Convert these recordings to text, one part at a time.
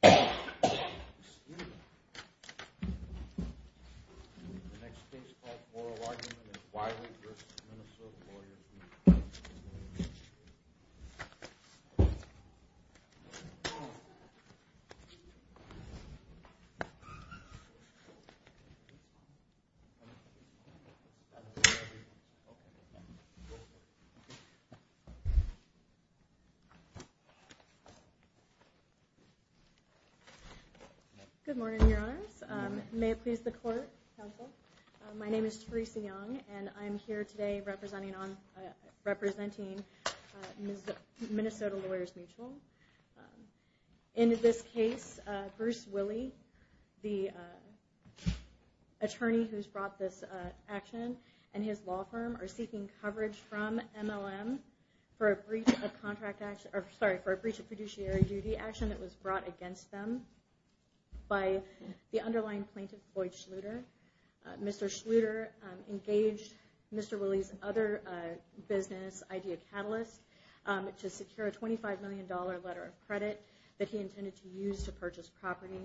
The next case of Moral Argument is Wiley v. Minnesota Lawyers Mutual. Good morning, Your Honors. May it please the Court, Counsel? My name is Theresa Young, and I'm here today representing Minnesota Lawyers Mutual. In this case, Bruce Wiley, the attorney who's brought this action, and his law firm are seeking coverage from MLM for a breach of contract action, sorry, for a breach of fiduciary duty action that was brought against them by the underlying plaintiff, Boyd Schluter. Mr. Schluter engaged Mr. Wiley's other business, Idea Catalyst, to secure a $25 million letter of credit that he intended to use to purchase property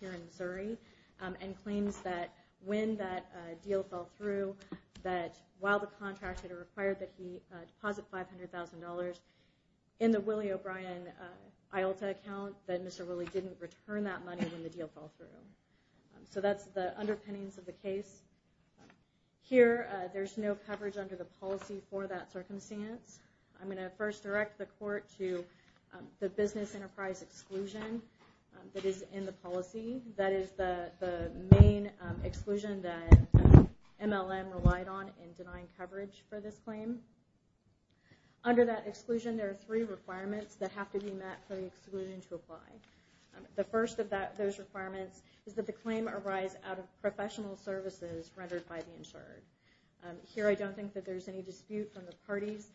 here in Missouri, and claims that when that deal fell through, that while the contractor required that he deposit $500,000 in the Willie O'Brien IULTA account, that Mr. Wiley didn't return that money when the deal fell through. So that's the underpinnings of the case. Here, there's no coverage under the policy for that circumstance. I'm going to first direct the Court to the business enterprise exclusion that is in the policy. That is the main exclusion that MLM relied on in denying coverage for this claim. Under that exclusion, there are three requirements that have to be met for the exclusion to apply. The first of those requirements is that the claim arise out of professional services rendered by the insured. Here, I don't think that there's any dispute from the parties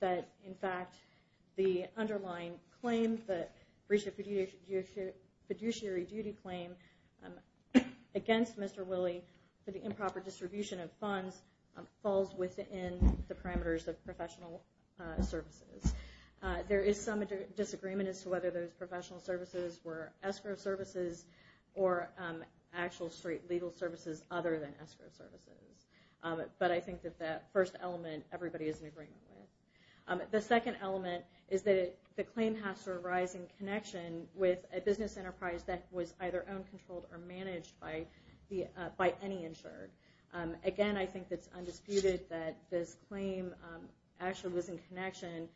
that, in fact, the underlying claim, the breach of fiduciary duty claim against Mr. Wiley for the improper distribution of funds, falls within the parameters of professional services. There is some disagreement as to whether those professional services were escrow services or actual straight legal services other than escrow services. But I think that that first element, everybody is in agreement with. The second element is that the claim has to arise in connection with a business enterprise that was either owned, controlled, or managed by any insured. Again, I think it's undisputed that this claim actually was in connection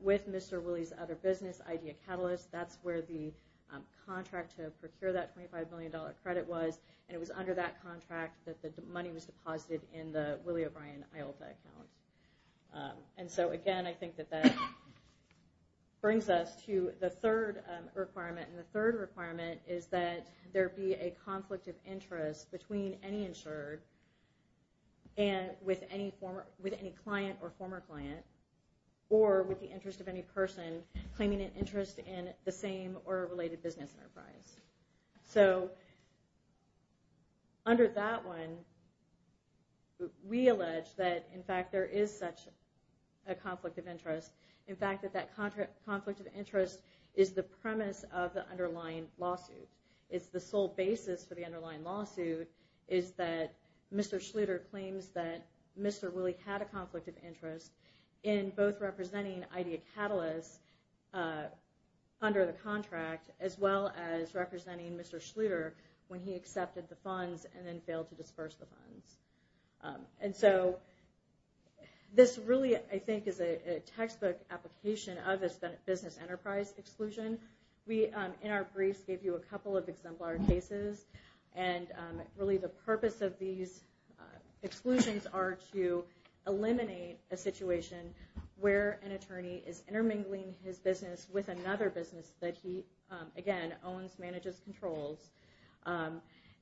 with Mr. Wiley's other business, Idea Catalyst. That's where the contract to procure that $25 million credit was. And it was under that contract that the money was deposited in the Wiley O'Brien IOLTA account. And so, again, I think that that brings us to the third requirement. And the third requirement is that there be a conflict of interest between any insured and with any client or former client, or with the interest of any person claiming an interest in the same or related business enterprise. So, under that one, we allege that, in fact, there is such a conflict of interest. In fact, that that conflict of interest is the premise of the underlying lawsuit. It's the sole basis for the underlying lawsuit is that Mr. Schluter claims that Mr. Wiley had a conflict of interest in both representing Idea Catalyst under the contract, as well as representing Mr. Schluter when he accepted the funds and then failed to disperse the funds. And so, this really, I think, is a textbook application of a business enterprise exclusion. We, in our briefs, gave you a couple of exemplar cases. And, really, the purpose of these exclusions are to eliminate a situation where an attorney is intermingling his business with another business that he, again, owns, manages, controls,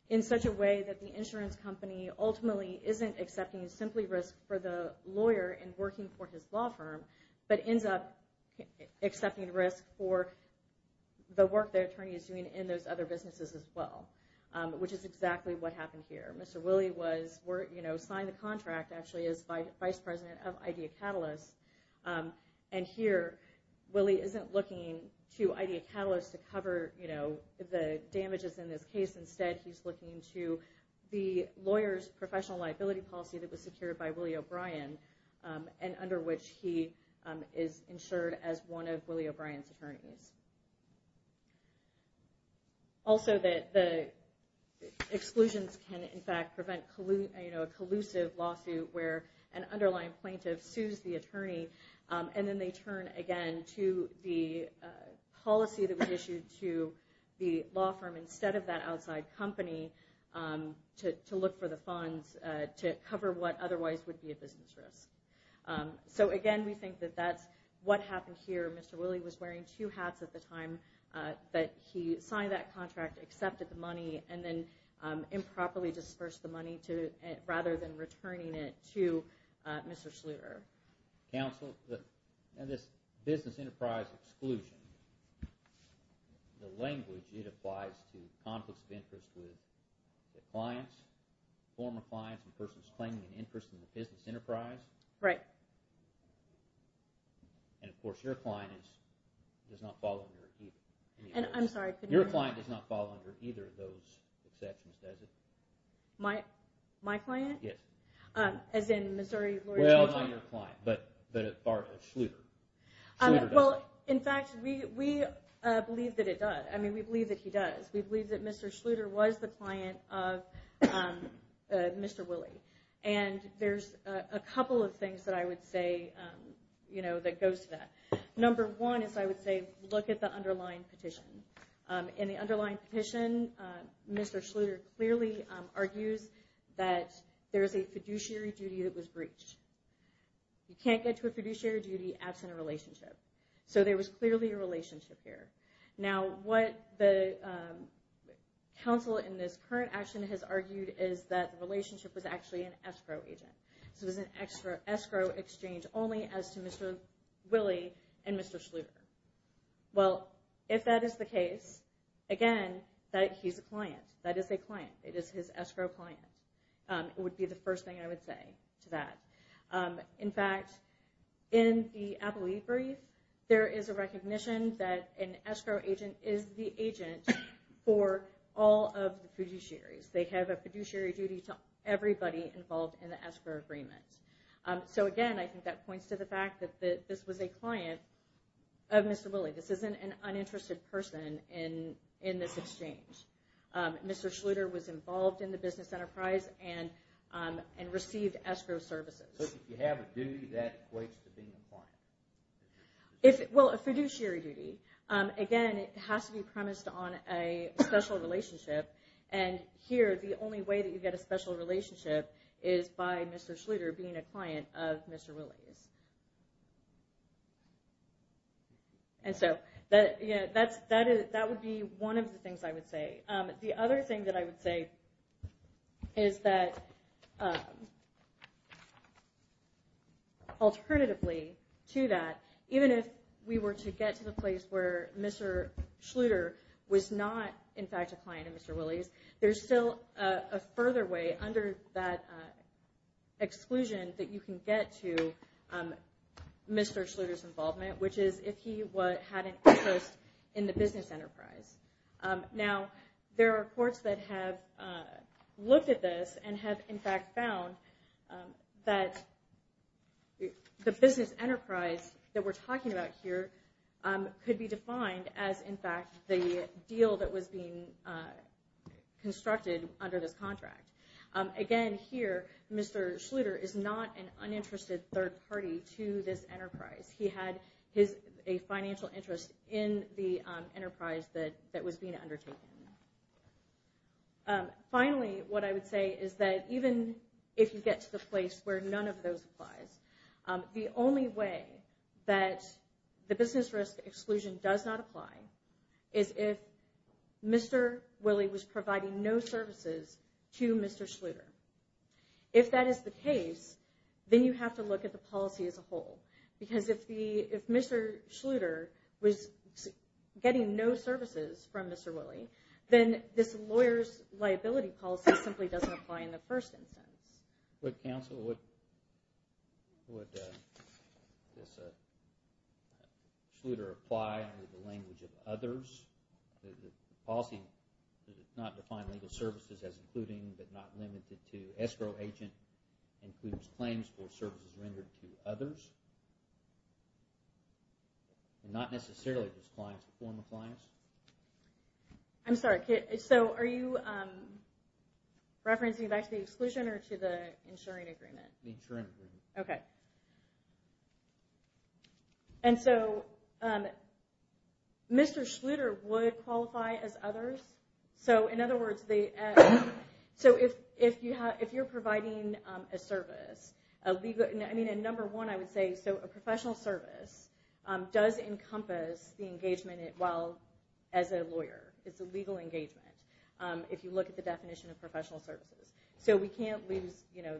in such a way that the insurance company ultimately isn't accepting simply risk for the lawyer in working for his law firm, but ends up accepting risk for the work the attorney is doing in those other businesses as well, which is exactly what happened here. Mr. Wiley signed the contract, actually, as Vice President of Idea Catalyst. And, here, Wiley isn't looking to Idea Catalyst to cover the damages in this case. Instead, he's looking to the lawyer's professional liability policy that was secured by Wiley O'Brien and under which he is insured as one of Wiley O'Brien's attorneys. Also, the exclusions can, in fact, prevent a collusive lawsuit where an underlying plaintiff sues the attorney, and then they turn, again, to the policy that was issued to the law firm instead of that outside company to look for the funds to cover what otherwise would be a business risk. So, again, we think that that's what happened here. Mr. Wiley was wearing two hats at the time that he signed that contract, accepted the money, and then improperly dispersed the money rather than returning it to Mr. Schluter. Counsel, this business enterprise exclusion, the language it applies to conflicts of interest with the clients, former clients, and persons claiming an interest in the business enterprise. And, of course, your client does not fall under either of those exceptions, does it? My client? Yes. As in Missouri Lawyer General? Well, not your client, but Schluter. Well, in fact, we believe that it does. I mean, we believe that he does. We believe that Mr. Schluter was the client of Mr. Wiley. And there's a couple of things that I would say that goes to that. Number one is I would say look at the underlying petition. In the underlying petition, Mr. Schluter clearly argues that there is a fiduciary duty that was breached. You can't get to a fiduciary duty absent a relationship. So there was clearly a relationship there. Now, what the counsel in this current action has argued is that the relationship was actually an escrow agent. So it was an escrow exchange only as to Mr. Wiley and Mr. Schluter. Well, if that is the case, again, he's a client. That is a client. It is his escrow client. It would be the first thing I would say to that. In fact, in the appellee brief, there is a recognition that an escrow agent is the agent for all of the fiduciaries. They have a fiduciary duty to everybody involved in the escrow agreement. So, again, I think that points to the fact that this was a client of Mr. Wiley. This isn't an uninterested person in this exchange. Mr. Schluter was involved in the business enterprise and received escrow services. So if you have a duty, that equates to being a client? Well, a fiduciary duty. Again, it has to be premised on a special relationship. And here, the only way that you get a special relationship is by Mr. Schluter being a client of Mr. Wiley's. And so that would be one of the things I would say. The other thing that I would say is that alternatively to that, even if we were to get to the place where Mr. Schluter was not, in fact, a client of Mr. Wiley's, there's still a further way under that exclusion that you can get to Mr. Schluter's involvement, which is if he had an interest in the business enterprise. Now, there are courts that have looked at this and have, in fact, found that the business enterprise that we're talking about here could be defined as, in fact, the deal that was being constructed under this contract. Again, here, Mr. Schluter is not an uninterested third party to this enterprise. He had a financial interest in the enterprise that was being undertaken. Finally, what I would say is that even if you get to the place where none of those applies, the only way that the business risk exclusion does not apply is if Mr. Wiley was providing no services to Mr. Schluter. If that is the case, then you have to look at the policy as a whole. Because if Mr. Schluter was getting no services from Mr. Wiley, then this lawyer's liability policy simply doesn't apply in the first instance. With counsel, would Mr. Schluter apply under the language of others? Does the policy not define legal services as including but not limited to escrow agent and includes claims for services rendered to others? Not necessarily just clients, but former clients? I'm sorry, so are you referencing back to the exclusion or to the insuring agreement? The insuring agreement. Okay. And so, Mr. Schluter would qualify as others? So, in other words, if you're providing a service, number one, I would say a professional service does encompass the engagement as a lawyer. It's a legal engagement if you look at the definition of professional services. So, we can't lose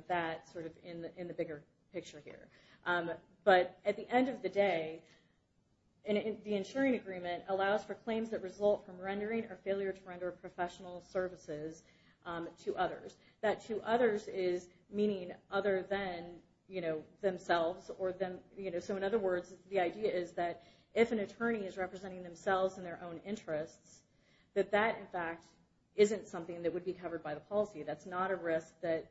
that in the bigger picture here. But at the end of the day, the insuring agreement allows for claims that result from rendering or failure to render professional services to others. That to others is meaning other than themselves. So, in other words, the idea is that if an attorney is representing themselves in their own interests, that that, in fact, isn't something that would be covered by the policy. That's not a risk that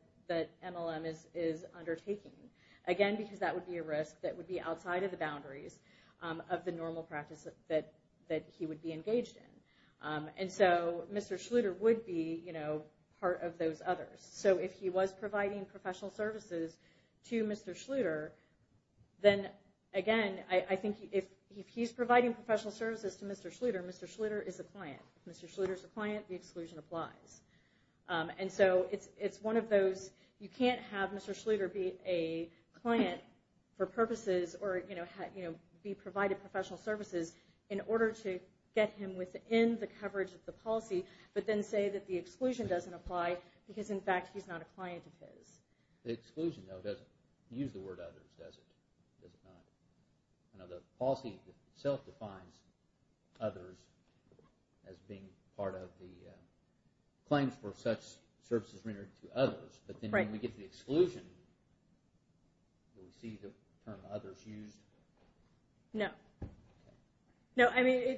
MLM is undertaking. Again, because that would be a risk that would be outside of the boundaries of the normal practice that he would be engaged in. And so, Mr. Schluter would be part of those others. So, if he was providing professional services to Mr. Schluter, then, again, I think if he's providing professional services to Mr. Schluter, Mr. Schluter is a client. If Mr. Schluter is a client, the exclusion applies. And so, it's one of those, you can't have Mr. Schluter be a client for purposes or be provided professional services in order to get him within the coverage of the policy, but then say that the exclusion doesn't apply because, in fact, he's not a client of his. The exclusion, though, doesn't use the word others, does it? Does it not? The policy itself defines others as being part of the claims for such services rendered to others. But then when we get to the exclusion, we'll see the term others used. No. No, I mean,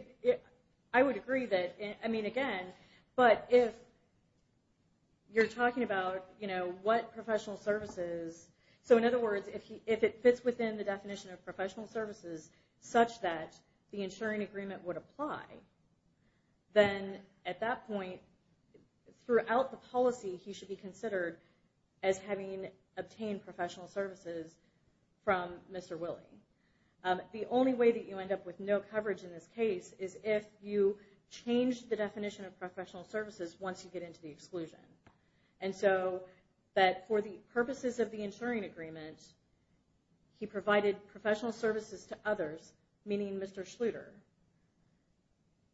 I would agree that, I mean, again, but if you're talking about, you know, what professional services, so in other words, if it fits within the definition of professional services such that the insuring agreement would apply, then at that point, throughout the policy, he should be considered as having obtained professional services from Mr. Willey. The only way that you end up with no coverage in this case is if you change the definition of professional services once you get into the exclusion. And so, that for the purposes of the insuring agreement, he provided professional services to others, meaning Mr. Schluter.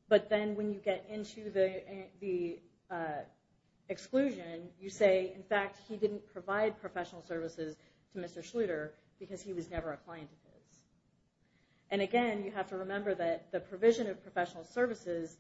But then when you get into the exclusion, you say, in fact, he didn't provide professional services to Mr. Schluter because he was never a client of his. And again, you have to remember that the provision of professional services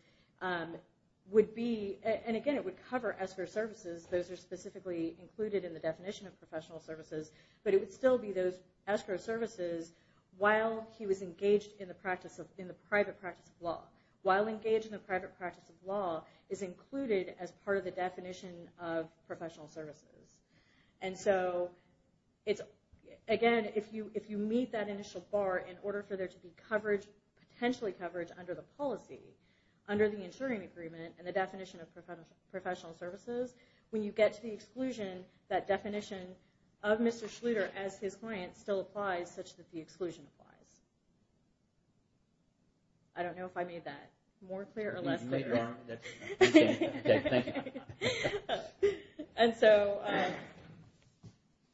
would be, and again, it would cover escrow services. Those are specifically included in the definition of professional services. But it would still be those escrow services while he was engaged in the private practice of law. While engaged in the private practice of law is included as part of the definition of professional services. And so, again, if you meet that initial bar in order for there to be coverage, potentially coverage under the policy, under the insuring agreement, and the definition of professional services, when you get to the exclusion, that definition of Mr. Schluter as his client still applies, such that the exclusion applies. I don't know if I made that more clear or less clear. Okay, thank you. And so,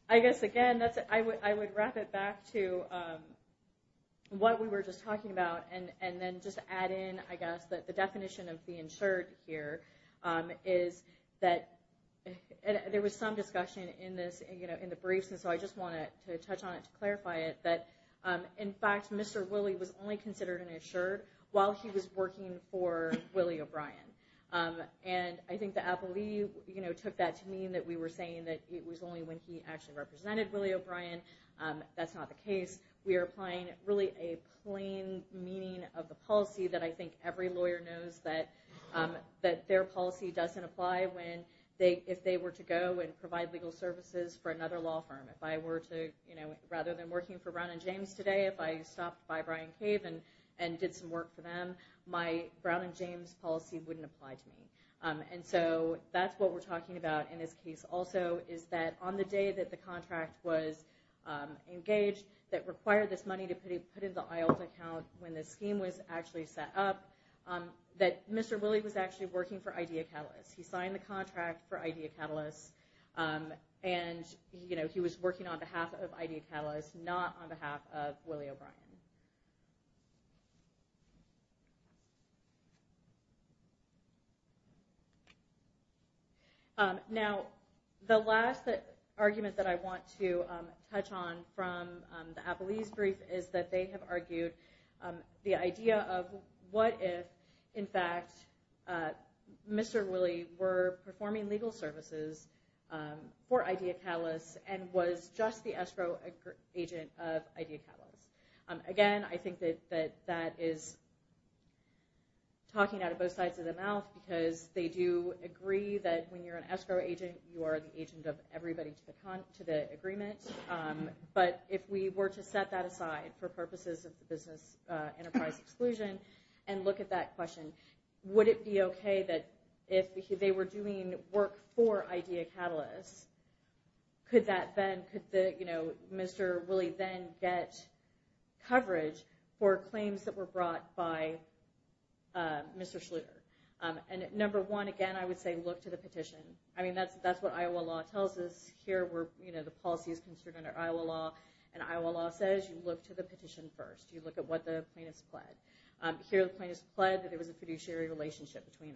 I guess, again, I would wrap it back to what we were just talking about, and then just add in, I guess, that the definition of being insured here is that, and there was some discussion in this, you know, in the briefs, and so I just wanted to touch on it to clarify it, that, in fact, Mr. Willie was only considered an insured while he was working for Willie O'Brien. And I think the appellee, you know, took that to mean that we were saying that it was only when he actually represented Willie O'Brien. That's not the case. We are applying really a plain meaning of the policy that I think every lawyer knows, that their policy doesn't apply if they were to go and provide legal services for another law firm. If I were to, you know, rather than working for Brown and James today, if I stopped by Brian Cave and did some work for them, my Brown and James policy wouldn't apply to me. And so that's what we're talking about in this case also, is that on the day that the contract was engaged, that required this money to be put in the IALT account when the scheme was actually set up, that Mr. Willie was actually working for Idea Catalyst. He signed the contract for Idea Catalyst, and, you know, he was working on behalf of Idea Catalyst, not on behalf of Willie O'Brien. Now, the last argument that I want to touch on from the Appleese brief is that they have argued the idea of what if, in fact, Mr. Willie were performing legal services for Idea Catalyst and was just the escrow agent of Idea Catalyst. Again, I think that that is talking out of both sides of the mouth, because they do agree that when you're an escrow agent, you are the agent of everybody to the agreement. But if we were to set that aside for purposes of the business enterprise exclusion and look at that question, would it be okay that if they were doing work for Idea Catalyst, could Mr. Willie then get coverage for claims that were brought by Mr. Schluter? And number one, again, I would say look to the petition. I mean, that's what Iowa law tells us. Here, the policy is construed under Iowa law, and Iowa law says you look to the petition first. You look at what the plaintiffs pled. Here, the plaintiffs pled that there was a fiduciary relationship between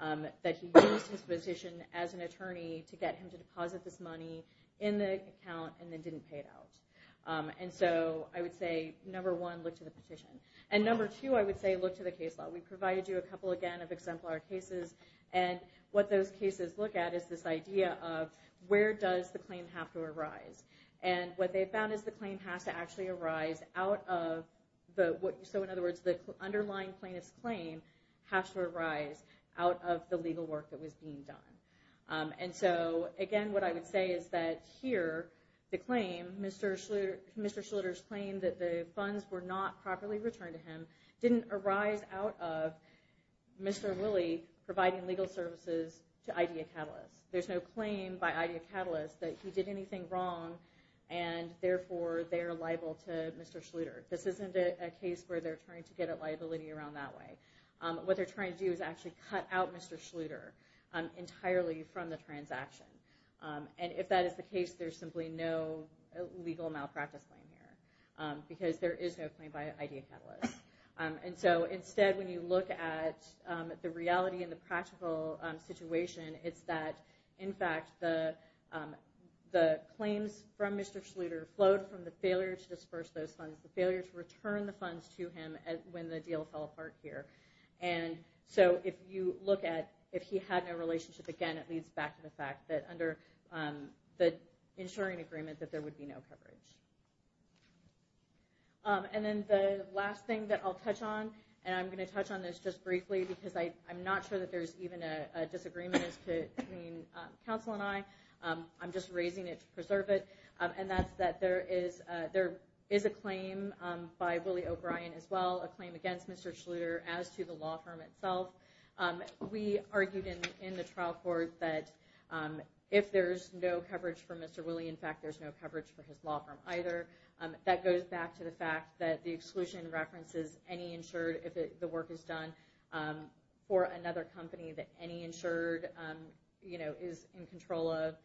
them, that he used his position as an attorney to get him to deposit this money in the account and then didn't pay it out. And so I would say, number one, look to the petition. And number two, I would say look to the case law. We provided you a couple, again, of exemplar cases, and what those cases look at is this idea of where does the claim have to arise. And what they found is the claim has to actually arise out of the – so in other words, the underlying plaintiff's claim has to arise out of the legal work that was being done. And so, again, what I would say is that here, the claim, Mr. Schluter's claim that the funds were not properly returned to him didn't arise out of Mr. Willie providing legal services to Idea Catalyst. There's no claim by Idea Catalyst that he did anything wrong, and therefore they're liable to Mr. Schluter. This isn't a case where they're trying to get a liability around that way. What they're trying to do is actually cut out Mr. Schluter entirely from the transaction. And if that is the case, there's simply no legal malpractice claim here because there is no claim by Idea Catalyst. And so instead, when you look at the reality and the practical situation, it's that, in fact, the claims from Mr. Schluter flowed from the failure to disperse those funds, the failure to return the funds to him when the deal fell apart here. And so if you look at if he had no relationship, again, it leads back to the fact that under the insuring agreement, that there would be no coverage. And then the last thing that I'll touch on, and I'm going to touch on this just briefly, because I'm not sure that there's even a disagreement between counsel and I. I'm just raising it to preserve it. And that's that there is a claim by Willie O'Brien as well, a claim against Mr. Schluter, as to the law firm itself. We argued in the trial court that if there's no coverage for Mr. Willie, in fact, there's no coverage for his law firm either. That goes back to the fact that the exclusion references any insured, if the work is done for another company that any insured is in control of,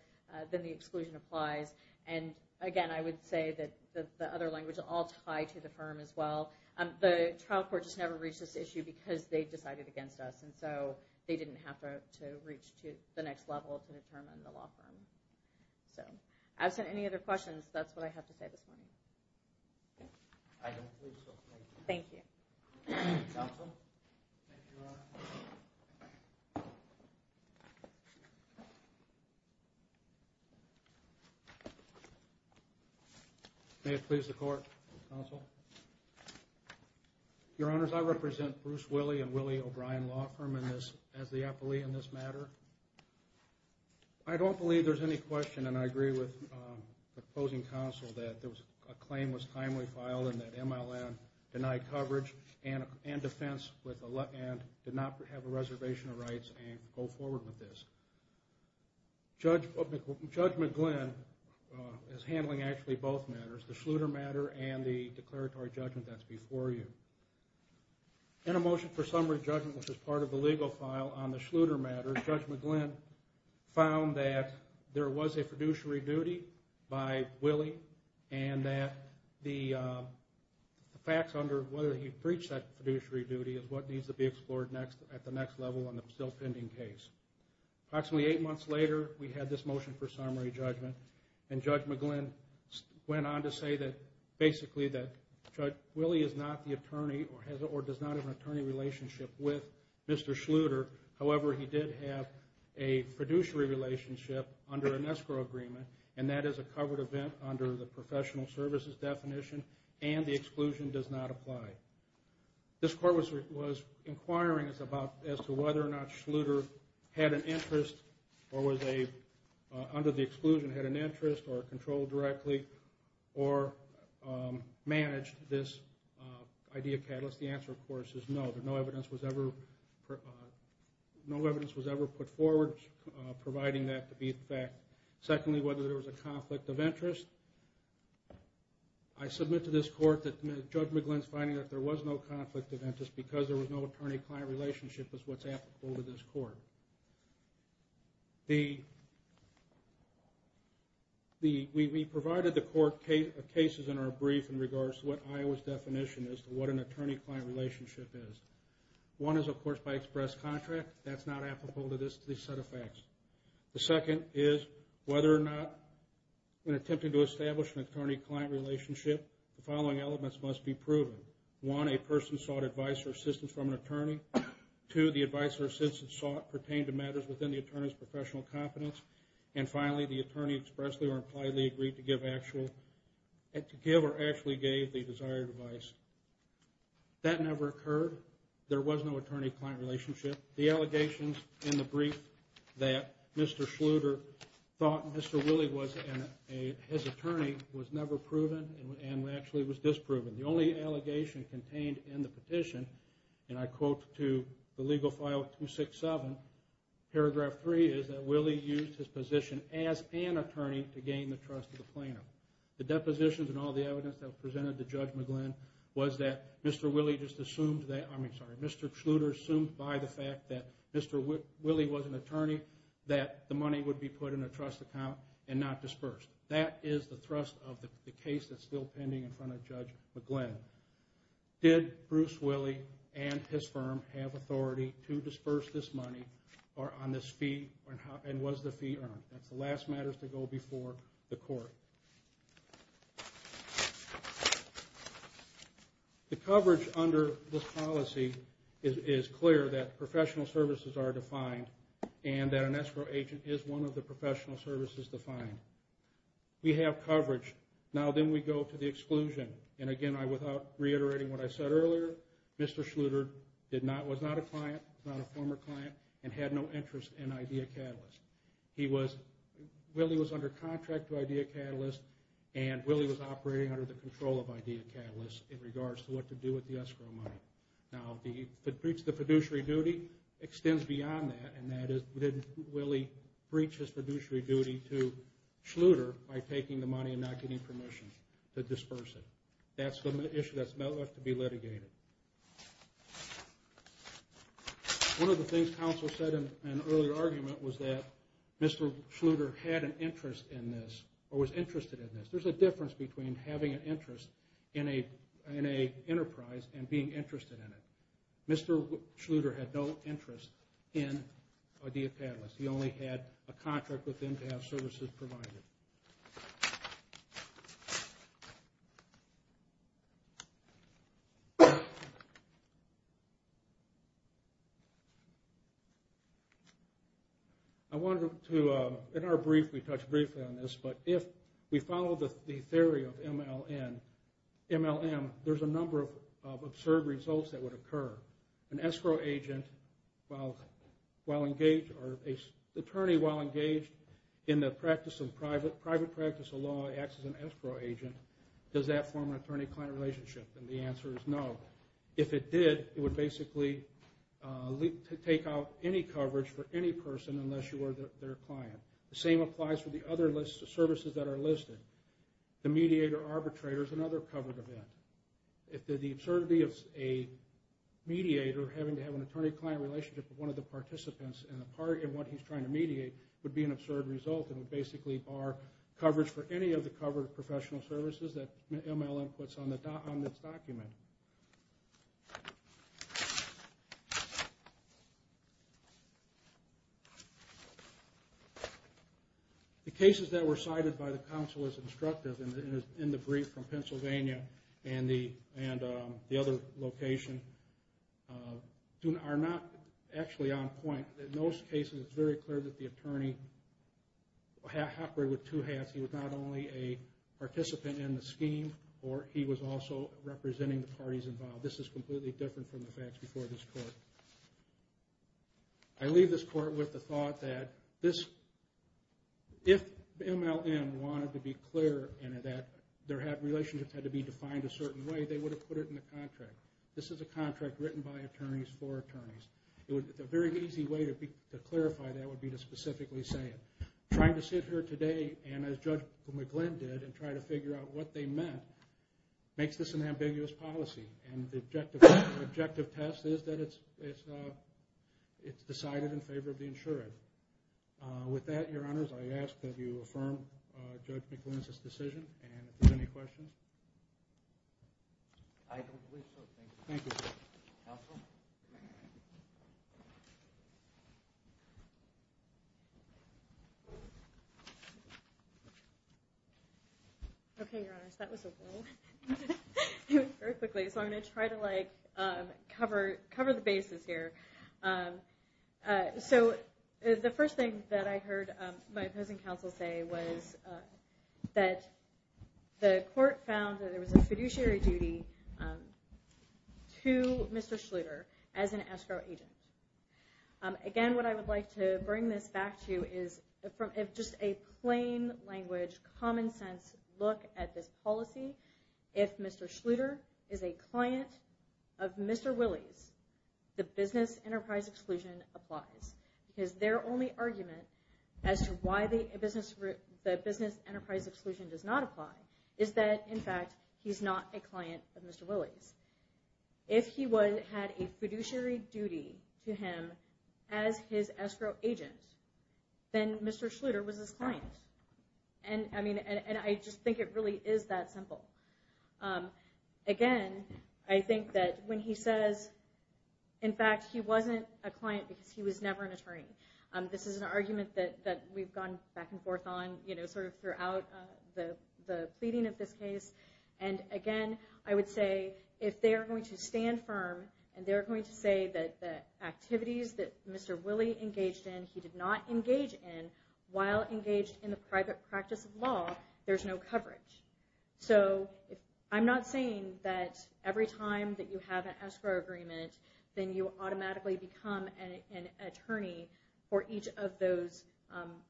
then the exclusion applies. And, again, I would say that the other language is all tied to the firm as well. The trial court just never reached this issue because they decided against us, and so they didn't have to reach to the next level to determine the law firm. So absent any other questions, that's what I have to say this morning. I don't believe so. Thank you. Thank you. Counsel? Thank you, Your Honor. May it please the Court, counsel? Your Honors, I represent Bruce Willie and Willie O'Brien Law Firm as the appellee in this matter. I don't believe there's any question, and I agree with the opposing counsel, that a claim was timely filed and that MLN denied coverage and defense and did not have a reservation of rights and go forward with this. Judge McGlynn is handling actually both matters, the Schluter matter and the declaratory judgment that's before you. In a motion for summary judgment, which is part of the legal file on the Schluter matter, Judge McGlynn found that there was a fiduciary duty by Willie and that the facts under whether he breached that fiduciary duty is what needs to be explored at the next level in the still pending case. Approximately eight months later, we had this motion for summary judgment, and Judge McGlynn went on to say that basically that Judge Willie is not the attorney or does not have an attorney relationship with Mr. Schluter. However, he did have a fiduciary relationship under an escrow agreement, and that is a covered event under the professional services definition, and the exclusion does not apply. This Court was inquiring as to whether or not Schluter had an interest or under the exclusion had an interest or controlled directly or managed this idea catalyst. The answer, of course, is no. No evidence was ever put forward providing that to be the fact. Secondly, whether there was a conflict of interest. I submit to this Court that Judge McGlynn's finding that there was no conflict of interest because there was no attorney-client relationship is what's applicable to this Court. We provided the Court cases in our brief in regards to what Iowa's definition is to what an attorney-client relationship is. One is, of course, by express contract. That's not applicable to this set of facts. The second is whether or not in attempting to establish an attorney-client relationship, the following elements must be proven. One, a person sought advice or assistance from an attorney. Two, the advice or assistance sought pertained to matters within the attorney's professional competence. And finally, the attorney expressly or impliedly agreed to give or actually gave the desired advice. That never occurred. There was no attorney-client relationship. The allegations in the brief that Mr. Schluter thought Mr. Willie was his attorney was never proven and actually was disproven. The only allegation contained in the petition, and I quote to the legal file 267, paragraph 3, is that Willie used his position as an attorney to gain the trust of the plaintiff. The depositions and all the evidence that was presented to Judge McGlynn was that Mr. Schluter assumed by the fact that Mr. Willie was an attorney that the money would be put in a trust account and not dispersed. That is the thrust of the case that's still pending in front of Judge McGlynn. Did Bruce Willie and his firm have authority to disperse this money or on this fee and was the fee earned? That's the last matters to go before the court. The coverage under this policy is clear that professional services are defined and that an escrow agent is one of the professional services defined. We have coverage. Now then we go to the exclusion. Again, without reiterating what I said earlier, Mr. Schluter was not a client, not a former client, and had no interest in Idea Catalyst. Willie was under contract to Idea Catalyst, and Willie was operating under the control of Idea Catalyst in regards to what to do with the escrow money. Now the fiduciary duty extends beyond that, and that is Willie breached his fiduciary duty to Schluter by taking the money and not getting permission to disperse it. That's an issue that's not left to be litigated. One of the things counsel said in an earlier argument was that Mr. Schluter had an interest in this or was interested in this. There's a difference between having an interest in an enterprise and being interested in it. Mr. Schluter had no interest in Idea Catalyst. He only had a contract with them to have services provided. I wanted to, in our brief, we touched briefly on this, but if we follow the theory of MLM, there's a number of absurd results that would occur. An attorney, while engaged in the private practice of law, acts as an escrow agent. Does that form an attorney-client relationship? The answer is no. If it did, it would basically take out any coverage for any person unless you were their client. The same applies for the other lists of services that are listed. The mediator arbitrator is another covered event. The absurdity of a mediator having to have an attorney-client relationship with one of the participants in what he's trying to mediate would be an absurd result and would basically bar coverage for any of the covered professional services that MLM puts on its document. The cases that were cited by the counsel as instructive in the brief from Pennsylvania and the other location are not actually on point. In those cases, it's very clear that the attorney operated with two hats. He was not only a participant in the scheme, or he was also representing the parties involved. This is completely different from the facts before this court. I leave this court with the thought that if MLM wanted to be clear in that their relationships had to be defined a certain way, they would have put it in the contract. This is a contract written by attorneys for attorneys. A very easy way to clarify that would be to specifically say it. Trying to sit here today and, as Judge McGlynn did, and try to figure out what they meant makes this an ambiguous policy. The objective test is that it's decided in favor of the insured. With that, Your Honors, I ask that you affirm Judge McGlynn's decision. Are there any questions? I don't believe so, thank you. Thank you. Counsel? Okay, Your Honors, that was a whirlwind. I'm going to try to cover the bases here. The first thing that I heard my opposing counsel say was that the court found that there was a fiduciary duty to Mr. Schluter as an escrow agent. Again, what I would like to bring this back to is just a plain language, common sense look at this policy. If Mr. Schluter is a client of Mr. Willey's, the business enterprise exclusion applies. Because their only argument as to why the business enterprise exclusion does not apply is that, in fact, he's not a client of Mr. Willey's. If he had a fiduciary duty to him as his escrow agent, then Mr. Schluter was his client. I just think it really is that simple. Again, I think that when he says, in fact, he wasn't a client because he was never an attorney, this is an argument that we've gone back and forth on throughout the pleading of this case. Again, I would say if they're going to stand firm and they're going to say that the activities that Mr. Willey engaged in, he did not engage in, while engaged in the private practice of law, there's no coverage. I'm not saying that every time that you have an escrow agreement, then you automatically become an attorney for each of those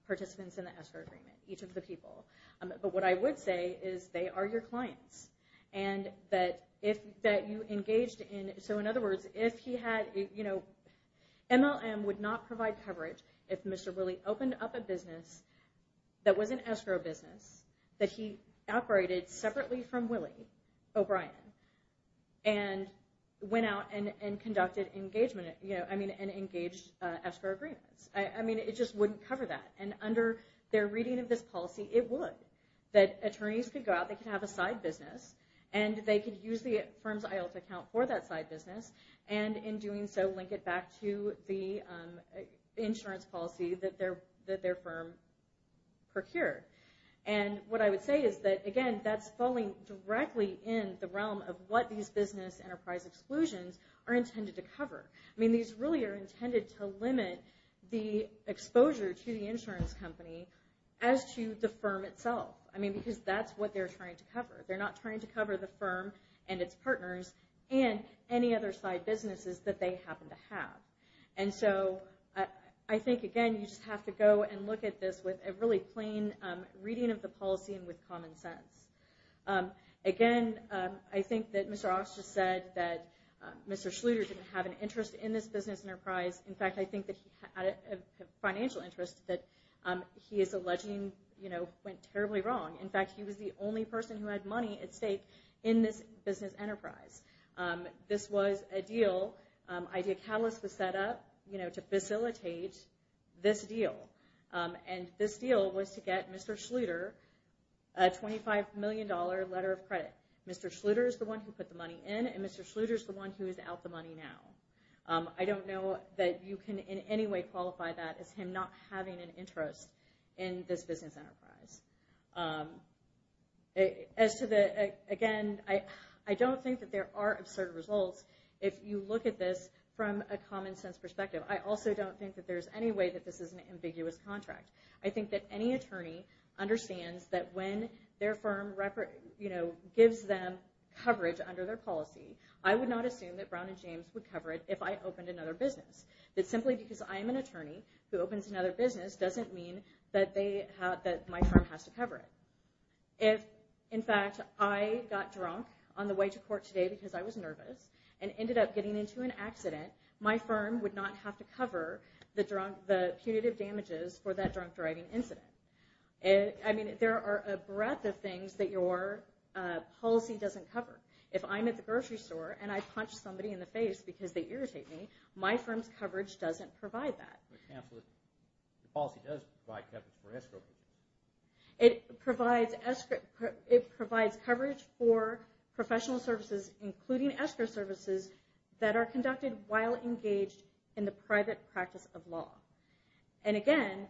participants in the escrow agreement, each of the people. But what I would say is they are your clients. In other words, MLM would not provide coverage if Mr. Willey opened up a business that was an escrow business that he operated separately from Willey O'Brien and went out and engaged escrow agreements. It just wouldn't cover that. And under their reading of this policy, it would. That attorneys could go out, they could have a side business, and they could use the firm's IELTS account for that side business, and in doing so link it back to the insurance policy that their firm procured. And what I would say is that, again, that's falling directly in the realm of what these business enterprise exclusions are intended to cover. I mean, these really are intended to limit the exposure to the insurance company as to the firm itself. I mean, because that's what they're trying to cover. They're not trying to cover the firm and its partners and any other side businesses that they happen to have. And so I think, again, you just have to go and look at this with a really plain reading of the policy and with common sense. Again, I think that Mr. Austin said that Mr. Schluter didn't have an interest in this business enterprise. In fact, I think that he had a financial interest that he is alleging went terribly wrong. In fact, he was the only person who had money at stake in this business enterprise. This was a deal. Idea Catalyst was set up to facilitate this deal, and this deal was to get Mr. Schluter a $25 million letter of credit. Mr. Schluter is the one who put the money in, and Mr. Schluter is the one who is out the money now. I don't know that you can in any way qualify that as him not having an interest in this business enterprise. As to the, again, I don't think that there are absurd results if you look at this from a common sense perspective. I also don't think that there's any way that this is an ambiguous contract. I think that any attorney understands that when their firm gives them coverage under their policy, I would not assume that Brown and James would cover it if I opened another business. That simply because I'm an attorney who opens another business doesn't mean that my firm has to cover it. If, in fact, I got drunk on the way to court today because I was nervous and ended up getting into an accident, my firm would not have to cover the punitive damages for that drunk driving incident. I mean, there are a breadth of things that your policy doesn't cover. If I'm at the grocery store and I punch somebody in the face because they irritate me, my firm's coverage doesn't provide that. The policy does provide coverage for escrow. It provides coverage for professional services, including escrow services, that are conducted while engaged in the private practice of law. And, again,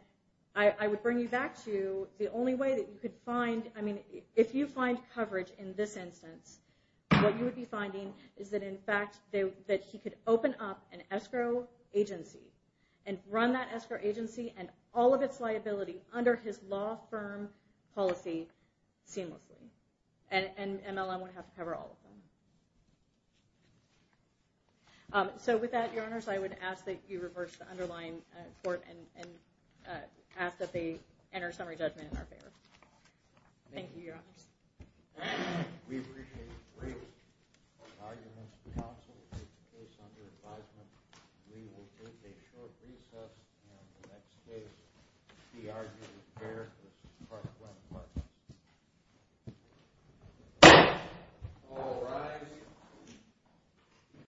I would bring you back to the only way that you could find, I mean, if you find coverage in this instance, what you would be finding is that, in fact, that he could open up an escrow agency and run that escrow agency and all of its liability under his law firm policy seamlessly. And MLM would have to cover all of them. So, with that, Your Honors, I would ask that you reverse the underlying court and ask that they enter summary judgment in our favor. Thank you, Your Honors. We appreciate the brief arguments. The counsel will take the case under advisement. We will take a short recess, and the next case will be argued in pair with Clark Glenn Clark. All rise.